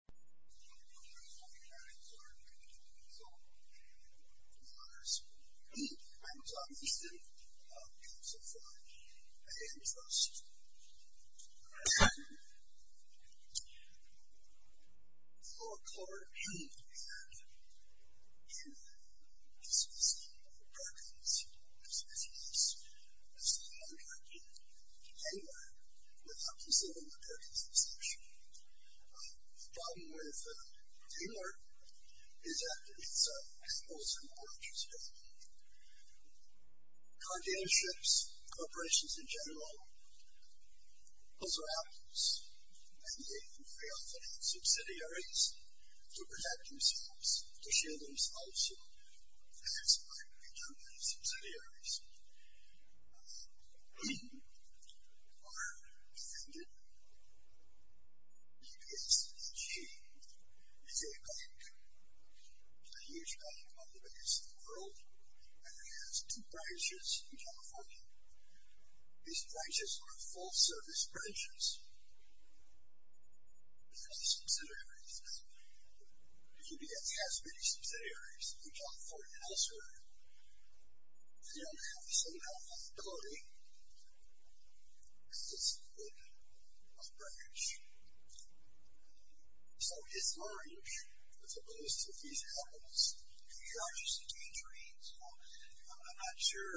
want to address the World Economic Zborn report so it matters I was obviously notified by the U.S. Trust then low Phone Call Appearance and this was the BRICUMS this posted in St. Pete, Oregon in January without considering the BRICUMS absaction the problem with Teamwork is that it's a multiple interest area Cardio Ships corporations in general also have and they they often have subsidiaries to protect themselves to shield themselves so they expect to have subsidiaries um are defended UPS is a bank it's a huge bank one of the biggest in the world and it has two branches in California these branches are full service branches they have subsidiaries UPS has many subsidiaries in California and elsewhere they don't have the same health quality as a branch so it's large as opposed to these companies who are just a tangerine so I'm not sure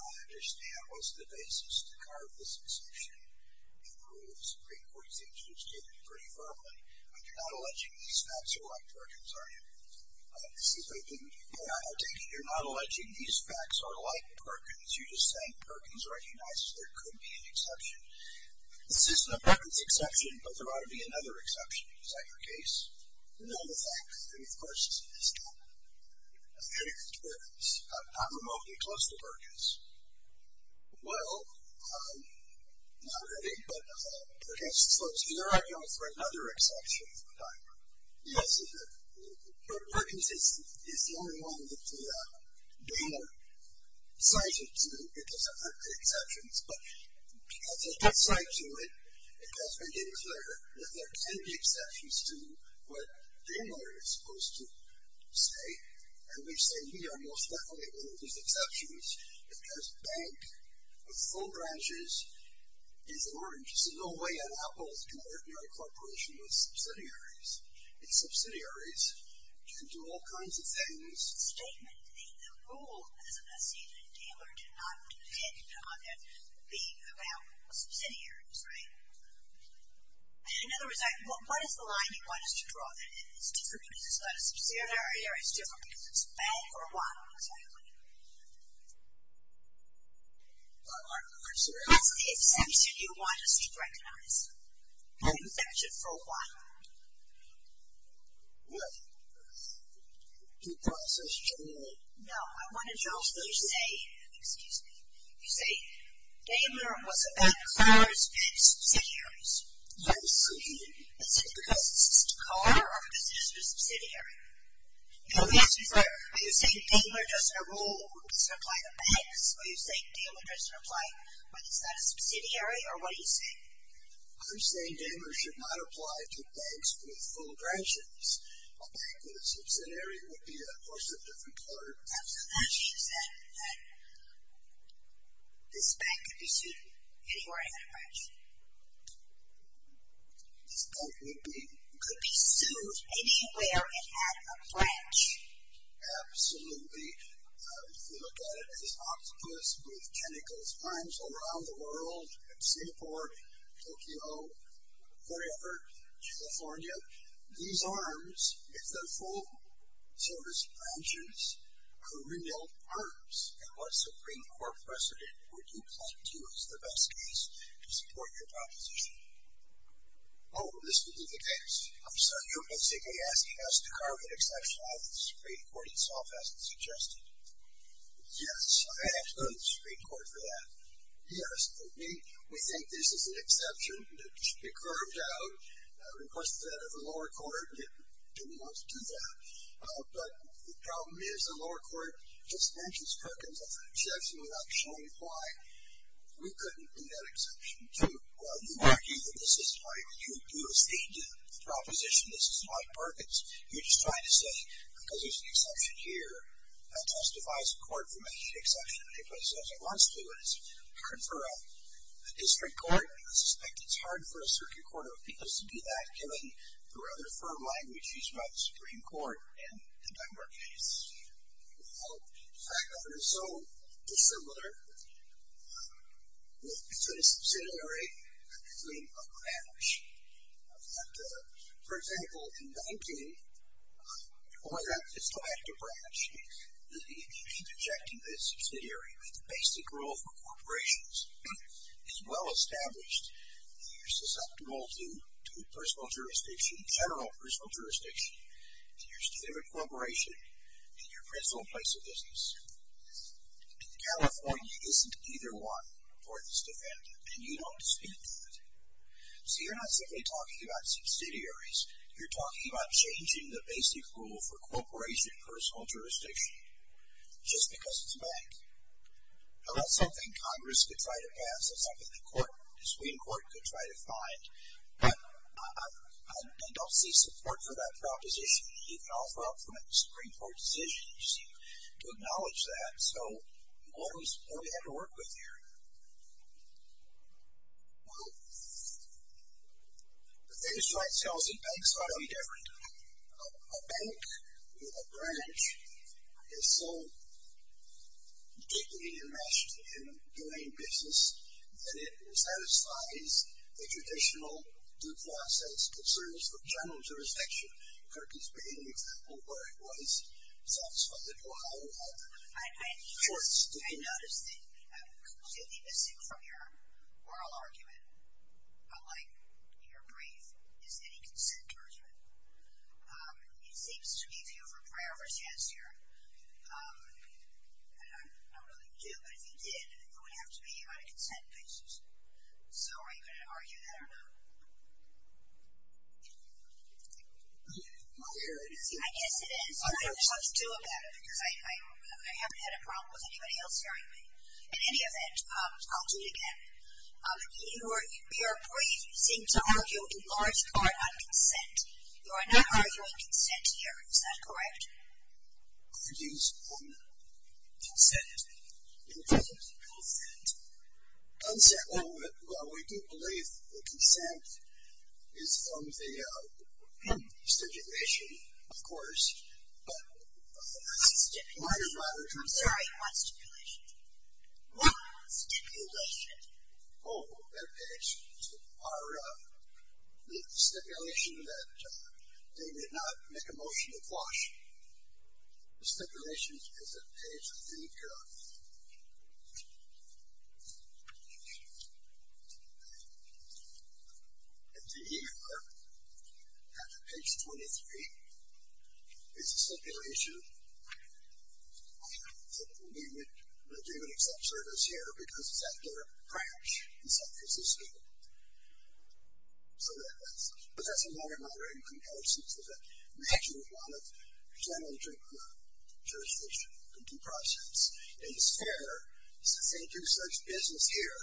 I understand what's the basis to carve this assumption in the rule of supreme court it seems to explain it pretty firmly but you're not alleging these facts are like Perkins, are you? I take it you're not alleging these facts are like Perkins you're just saying Perkins recognizes there could be an exception this isn't a Perkins exception but there ought to be another exception, is that your case? None of the facts of course it is not I'm not remotely close to Perkins well I'm not ready but perhaps it slips either way I'm calling for another exception yes Perkins is the only one that the donor cites it to it doesn't have the exceptions but because they did cite to it it has been made clear that there can be exceptions to what the donor is supposed to say and we say we are most definitely one of these exceptions because bank with four branches is orange so no way an apple can hurt your corporation with subsidiaries it's subsidiaries can do all kinds of things the statement, the rule as a dealer did not depend on it being about subsidiaries, right? in other words what is the line you want us to draw is it different because it's got a subsidiary or is it different because it's bank or what? I'm sorry, what did you say? I'm sorry, what did you say? What's the exception you want us to recognize? You've mentioned it for a while What? You thought this was true? No, I wanted you all to say, excuse me you say, Baylor was about cars and subsidiaries Yes Is it because it's a car or because it's a subsidiary? Are you saying Baylor doesn't apply to banks are you saying Baylor doesn't apply whether it's got a subsidiary or what are you saying? I'm saying Baylor should not apply to banks with full branches a bank with a subsidiary would be of course a different part Absolutely, she said that this bank could be sued anywhere it had a branch This bank could be sued anywhere it had a branch Absolutely if you look at it as octopus with tentacles arms all around the world Singapore, Tokyo wherever, California these arms if they're full, so to speak branches, are real arms and what Supreme Court precedent would you point to as the best case to support your proposition? Oh, this would be the case. You're basically asking us to carve an exception out of the Supreme Court itself as suggested Yes, I asked the Supreme Court for that Yes, we think this is an exception, it should be curved out requested that of the lower court didn't want to do that but the problem is the lower court just mentions Perkins as an exception without showing why we couldn't be that this is why we would do a state proposition, this is not Perkins. You're just trying to say because there's an exception here that justifies a court from making an exception because as it wants to it's hard for a district court, I suspect it's hard for a circuit court of appeals to do that given the rather firm language used by the Supreme Court in the Dunbar case The fact of it is so dissimilar It's a subsidiary of a branch For example, in 19 20, it's the latter branch interjecting the subsidiary that the basic rule for corporations is well established that you're susceptible to personal jurisdiction, general personal jurisdiction to your favorite corporation and your principal place of business California isn't either one and you don't stand to it So you're not simply talking about subsidiaries, you're talking about changing the basic rule for corporations and personal jurisdiction just because it's a bank Now that's something Congress could try to pass, that's something the Supreme Court could try to find I don't see support for that proposition You can offer up from a Supreme Court decision, you see, to acknowledge that, so what do we have to work with here? Well The thing is to myself that banks ought to be different A bank with a branch is so deeply enmeshed in doing business that it satisfies the traditional due process concerns of general jurisdiction Turkey's been an example where it was self-funded while it had been enforced Do I notice that something missing from your oral argument, unlike in your brief, is any consent judgment It seems to me to have a prayer for chance here and I don't really do, but if you did, it would have to be on a consent basis So are you going to argue that or not? I guess it is I don't know what to do about it because I haven't had a problem with anybody else hearing me. In any event I'll do it again In your brief, you seem to argue in large part on consent You are not arguing consent here, is that correct? I would use consent In terms of consent Well, we do believe that consent is from the stipulation, of course but I'm sorry, what stipulation? What stipulation? Oh, that page Our stipulation that they did not make a motion to quash stipulation is that page I think And the E.R. at page 23 is the stipulation that we would give an exception here because it's at their branch in San Francisco So that's a more moderated comparison so that we actually wanted general jurisdiction to do process and it's fair since they do such business here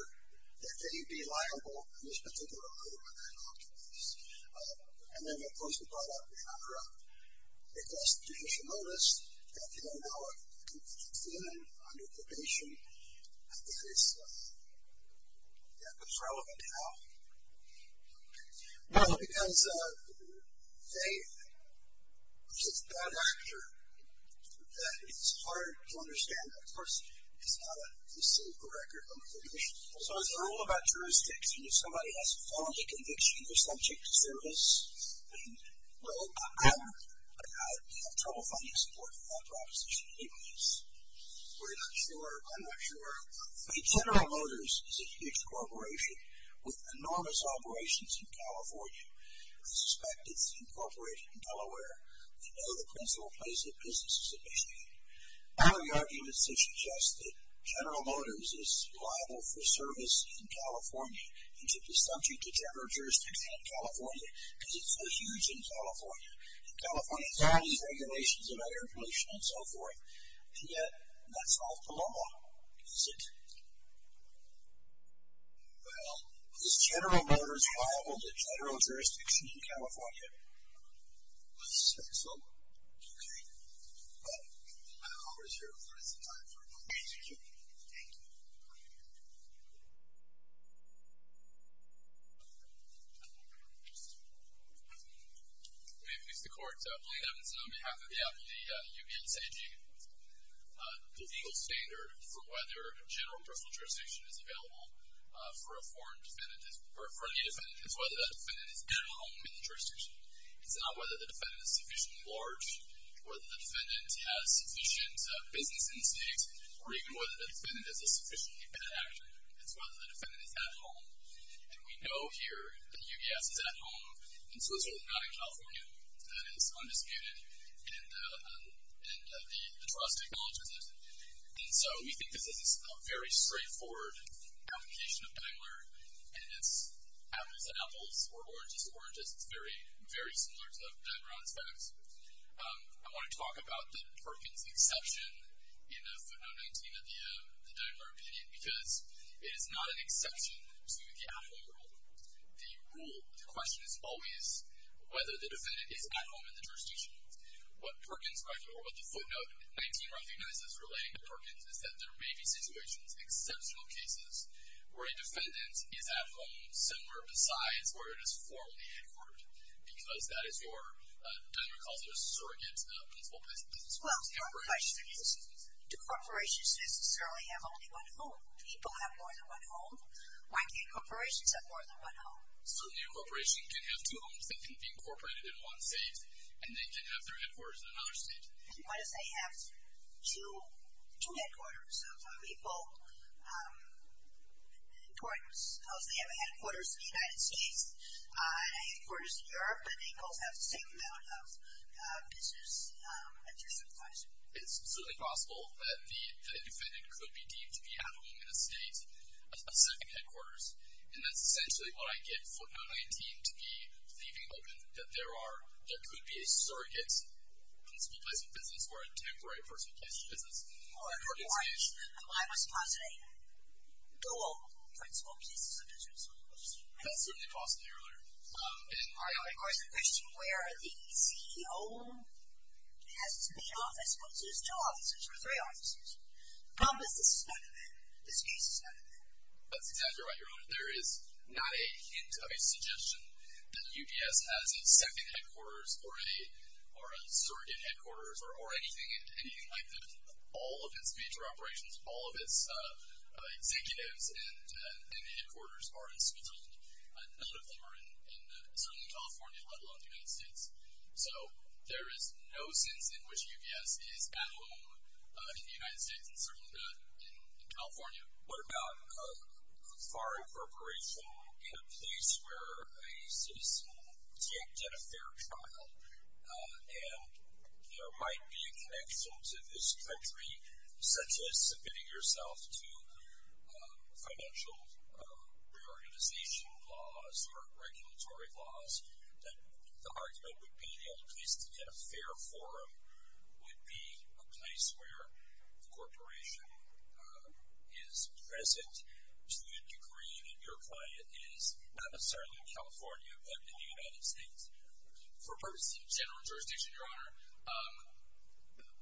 that they'd be liable in this particular case And then of course we brought up the constitutional notice that you know now under probation I think it's yeah, it's relevant now Well, because they which is the It's hard to understand, of course because now that we've seen the record So it's all about jurisdiction if somebody has a felony conviction they're subject to service Well, I'm I have trouble finding support for that proposition anyways We're not sure, I'm not sure General Motors is a huge corporation with enormous operations in California I suspect it's incorporated in Delaware I know the principal place of business is in Michigan Now the arguments that suggest that General Motors is liable for service in California and should be subject to general jurisdiction in California because it's so huge in California and California has all these regulations about air pollution and so forth and yet that's not the law, is it? Well, is General Motors liable to general jurisdiction in California? I suspect so Okay, well I don't know where to start Thank you Let me introduce the court Blaine Evans on behalf of the UBS AG The legal standard for whether general jurisdiction is available for a foreign defendant for any defendant is whether that defendant is at home in the jurisdiction It's not whether the defendant is sufficiently large or that the defendant has sufficient business instincts or even whether the defendant is a sufficiently bad actor. It's whether the defendant is at home. And we know here that UBS is at home in Switzerland, not in California That is undisputed and the trust acknowledges it And so we think this is a very straightforward application of Daimler and it's apples and apples or oranges and oranges. It's very similar to Daimler on its facts I want to talk about the Perkins exception in footnote 19 of the Daimler opinion because it is not an exception to the at-home rule The rule, the question is always whether the defendant is at home in the jurisdiction What Perkins, or what the footnote 19 recognizes relating to Perkins is that there may be situations, exceptional cases, where a defendant is at home somewhere besides where it is formally headquartered because that is your, Daimler calls it a surrogate principle Well, the question is do corporations necessarily have only one home? People have more than one home. Why can't corporations have more than one home? So a new corporation can have two homes that can be incorporated in one state and they can have their headquarters in another state. What if they have two headquarters? So some people have headquarters in the United States and headquarters in Europe, but they both have the same amount of business at their surrogacy It's absolutely possible that the defendant could be deemed to be at home in a state of second headquarters and that's essentially what I give footnote 19 to be leaving open that there are there could be a surrogate principle place of business or a temporary principle place of business I must posit a dual principle place of business That's certainly possible, Your Honor I'm going to question where the CEO has his main office versus two offices or three offices The problem is this is not a man This case is not a man That's exactly right, Your Honor. There is not a hint of a suggestion that UPS has a second headquarters or a surrogate headquarters or anything like that All of its major operations, all of its executives and headquarters are in Switzerland. None of them are certainly in California, let alone the United States. So there is no sense in which UPS is at home in the United States and certainly not in California What about a foreign corporation in a place where a citizen can't get a fair trial and there might be a connection to this country such as submitting yourself to financial reorganization laws or regulatory laws that the argument would be the only place to get a fair forum would be a place where the corporation is present to a degree that your client is not necessarily in California, but in the United States. For purposes of general jurisdiction, Your Honor,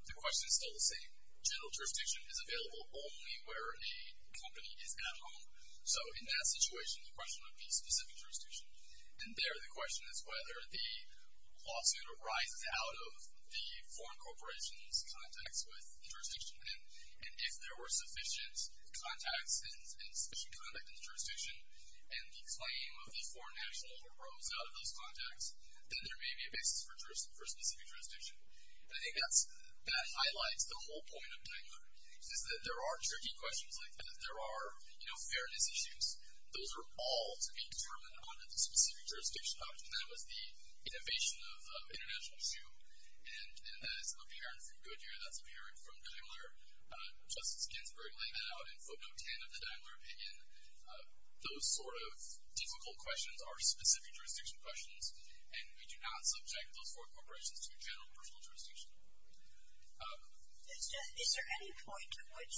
the question is still the same. General jurisdiction is available only where a company is at home. So in that situation, the question would be specific jurisdiction. And there, the question is whether the lawsuit arises out of the foreign corporation's contacts with the jurisdiction and if there were sufficient contacts and sufficient jurisdiction and the claim of the foreign national arose out of those contacts, then there may be a basis for specific jurisdiction. And I think that's, that highlights the whole point of Daimler, is that there are tricky questions like that. There are fairness issues. Those are all to be determined on a specific jurisdiction. That was the innovation of international issue and that is apparent from Goodyear. That's apparent from Daimler. Justice Ginsburg laid that out in footnote 10 of the Daimler opinion. Those sort of difficult questions are specific jurisdiction questions and we do not subject those foreign corporations to a general personal jurisdiction. Is there any point at which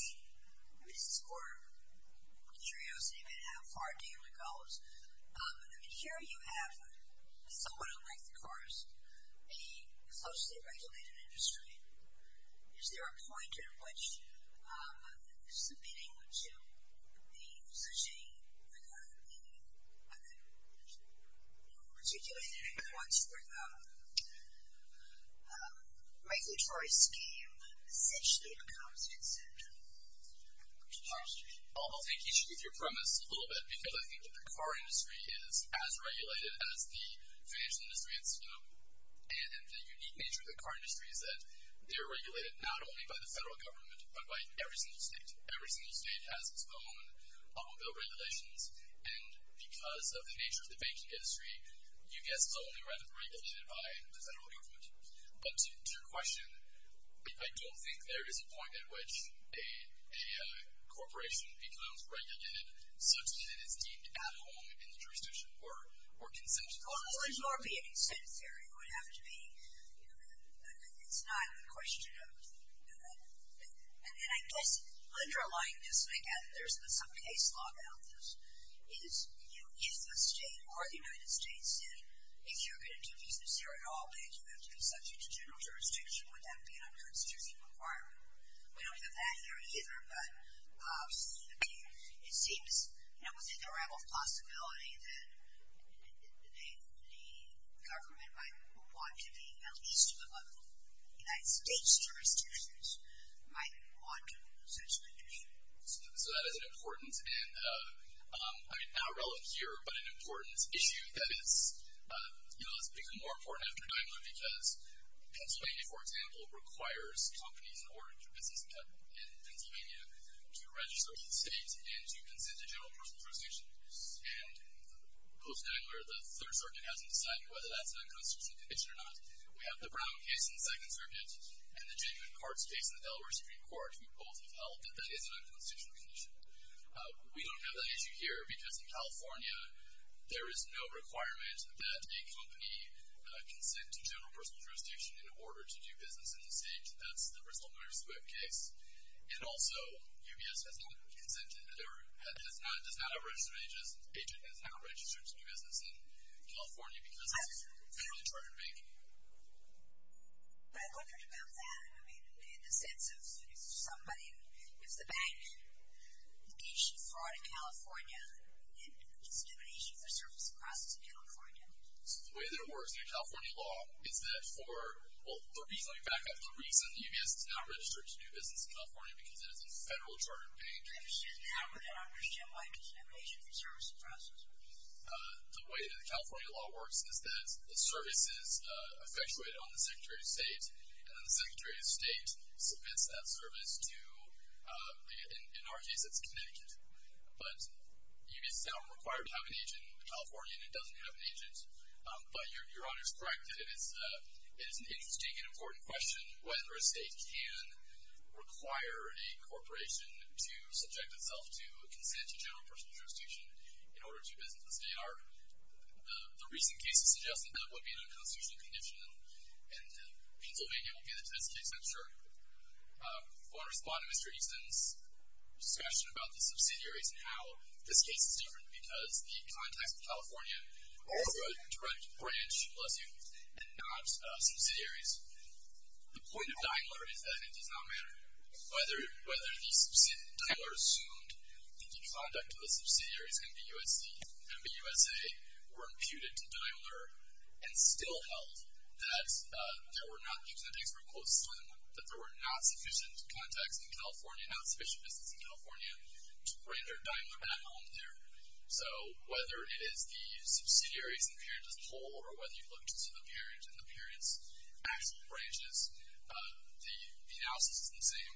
this is more curiosity about how far Daimler goes. I mean, here you have, somewhat unlike the chorus, a closely regulated industry. Is there a point at which submitting to the the the the regulatory scheme essentially becomes a jurisdiction? I'll take each with your premise a little bit because I think that the car industry is as regulated as the financial industry. It's, you know, and the unique nature of the car industry is that they're regulated not only by the federal government, but by every single state. Every single state has its own bill of regulations and because of the nature of the banking industry UBS is only regulated by the federal government. But to your question, I don't think there is a point at which a corporation becomes regulated such that it is deemed at home in the jurisdiction or consensual. Wouldn't there be an incentive here? It would have to be you know, it's not a question of, you know, and I guess underlying this, and again, there's some case law about this, is, you know, if the state or the United States said, if you're going to do business here at all, then you have to be subject to general jurisdiction, would that be an unconstitutional requirement? We don't have that here either, but it seems, you know, within the realm of possibility that the government might want to be at least above the United States jurisdictions, might want to essentially do so. So that is an important and I mean, not relevant here, but an important issue that is you know, it's become more important after Daimler because Pennsylvania for example requires companies in order to do business in Pennsylvania to register with the state and to consent to general personal jurisdiction and post-Daimler the third circuit hasn't decided whether that's an unconstitutional condition or not. We have the Brown case in the second circuit and the genuine courts case in the Delaware Supreme Court who both have held that that is an unconstitutional condition. We don't have that issue here because in California there is no requirement that a company consent to general personal jurisdiction in order to do business in the state. That's the Bristol-Murray-Squibb case. And also, UBS has not consented, does not have registered agent has not registered to do business in California because it's a federally chartered bank. I wondered about that. I mean, in the sense of somebody, if the bank engaged in fraud in California and discrimination for service across California. So the way that it works in your California law is that for, well, let me back up, the reason UBS has not registered to do business in California because it is a federally chartered bank. The way that the California law works is that the service is effectuated on the Secretary of State and then the Secretary of State submits that service to, in our case, it's Connecticut. But UBS is not required to have an agent in California and it doesn't have an agent. But Your Honor is correct that it is an interesting and important question whether a state can require a corporation to submit an agent and then subject itself to consent to general personal jurisdiction in order to do business in the state. The recent cases suggest that that would be an unconstitutional condition and Pennsylvania will be the test case, I'm sure. I want to respond to Mr. Easton's discussion about the subsidiaries and how this case is different because the context of California is a direct branch, bless you, and not subsidiaries. The point of Dineler is that it does not matter whether the Dineler assumed the conduct of the subsidiaries, MBUSA, were imputed to Dineler and still held that there were not, using the Dixburg quote, slim, that there were not sufficient contacts in California, not sufficient business in California to render Dineler at home there. So whether it is the subsidiaries and the parent as a whole or whether you look to the parent and the parent's actual branches, the analysis is the same.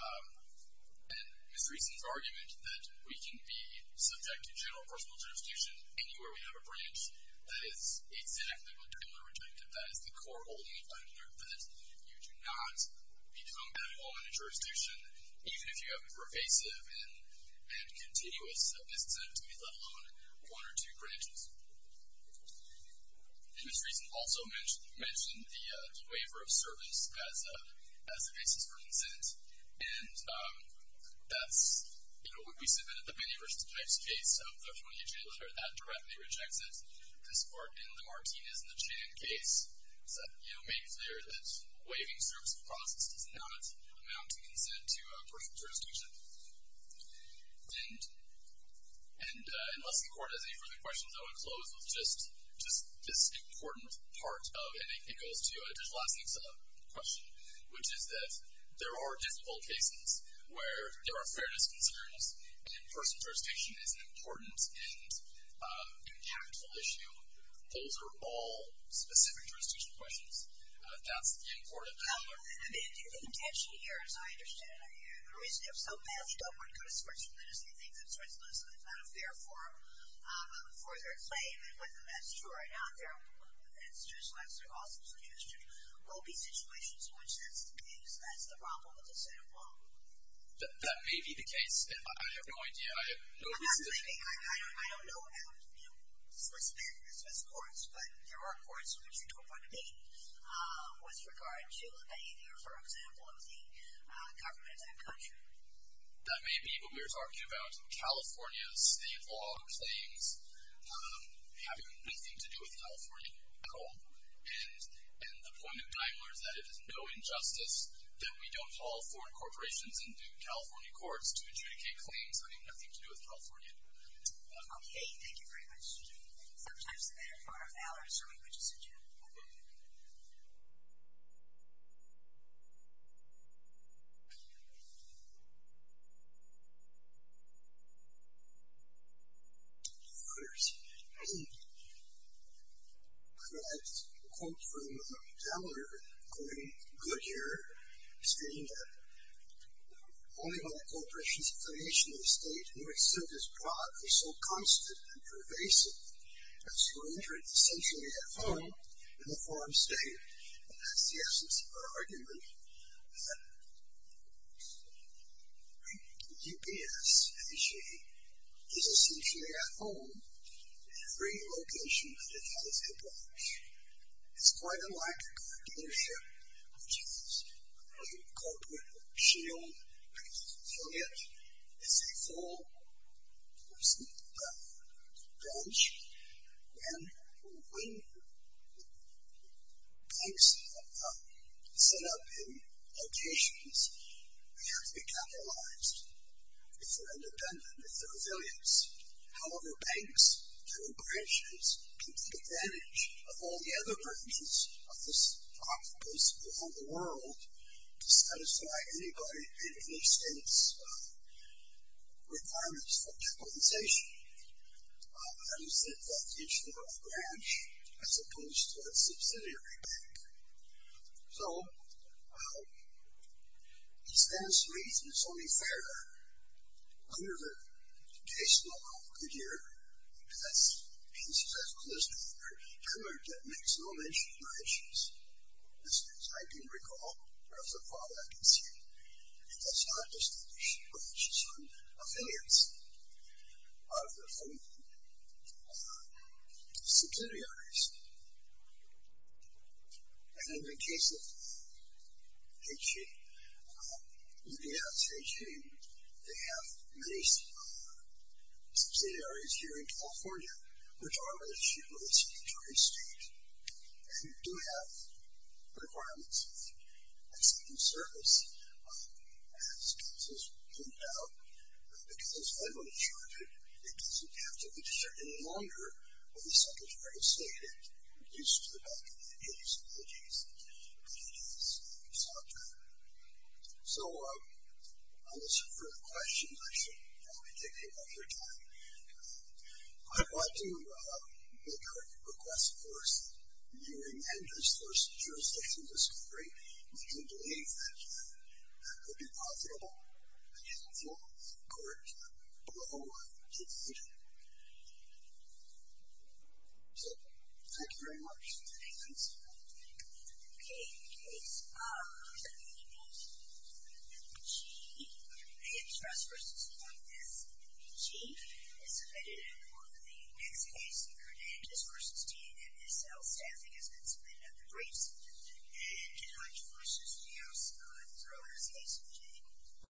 And Mr. Easton's argument that we can be subject to general personal jurisdiction anywhere we have a branch that is exactly what Dineler rejected, that is the core holding of Dineler, that you do not become at home in a jurisdiction, even if you have a pervasive and continuous business entity, let alone one or two branches. And Mr. Easton also mentioned the waiver of service as a basis for consent, and that's, you know, when we submitted the Penny versus Pipes case of the 28-J letter, that directly rejects it. This part in the Martinez and the Chan case made clear that waiving service of process does not amount to consent to personal jurisdiction. And unless the court has any further questions, I want to close with just this important part of it, and it goes to the last next question, which is that there are difficult cases where there are fairness concerns, and personal jurisdiction is an important and impactful issue. Those are all specific jurisdiction questions. That's the important part. The intention here, as I understand it, the reason you have so messed up and go to Switzerland and say things in Switzerland is that it's not a fair forum for their claim, and whether that's true or not, there are institutions where that's an awesome suggestion. There will be situations in which that's the problem with the Senate law. That may be the case. I have no idea. I don't know about, you know, Swiss courts, but there are courts in which you don't want to be with regard to a waiver, for example, of the government of that country. That may be what we were talking about. California's state law claims have nothing to do with California at all, and the point of Daimler is that it is no injustice that we don't call foreign corporations into California courts to adjudicate claims having nothing to do with California. Sometimes the better part of Valor is showing what you said, Jim. Yes. Of course. I'd like to quote from Daimler, including Goodyear, stating that only by the corporations' affiliation to the state do we assert this product is so constant and pervasive as to enter it essentially at home in the foreign state. That's the essence of our argument that UPS is essentially at home in every location that it has a branch. It's quite unlike dealership, which has a corporate shield. It's a full person branch, and when banks set up in locations, they have to be capitalized if they're independent, if they're affiliates. However, banks through branches can take advantage of all the other branches of this office around the world to satisfy anybody in any state's requirements for capitalization. That is, that each branch, as opposed to a subsidiary bank. So, it stands to reason it's only fair under the case law of Goodyear, and that's pieces as close to every pillar that makes no mention of my issues. This means I can recall the product and say it does not distinguish my issues from affiliates of the subsidiaries. And in the case of H.E., you can ask H.E., they have many subsidiaries here in California, which are issued by the Secretary of State and do have requirements of self-service. As Gus has pointed out, because I'm uninsured, it doesn't have to be any longer of the Secretary of State. It reduces to the back of the H.E.'s and H.E.'s software. So, unless you have further questions, I should probably take the rest of your time. I'd like to make a request, of course, that you amend this jurisdiction discovery if you believe that that would be profitable and helpful, according to the law. Thank you very much. Any questions? Okay. In the case of G, H.R.S. v. S.G. is submitted on the next case, H.S. v. D.M.S.L. staffing has been submitted on the briefs, and H.R.S. v. S.G.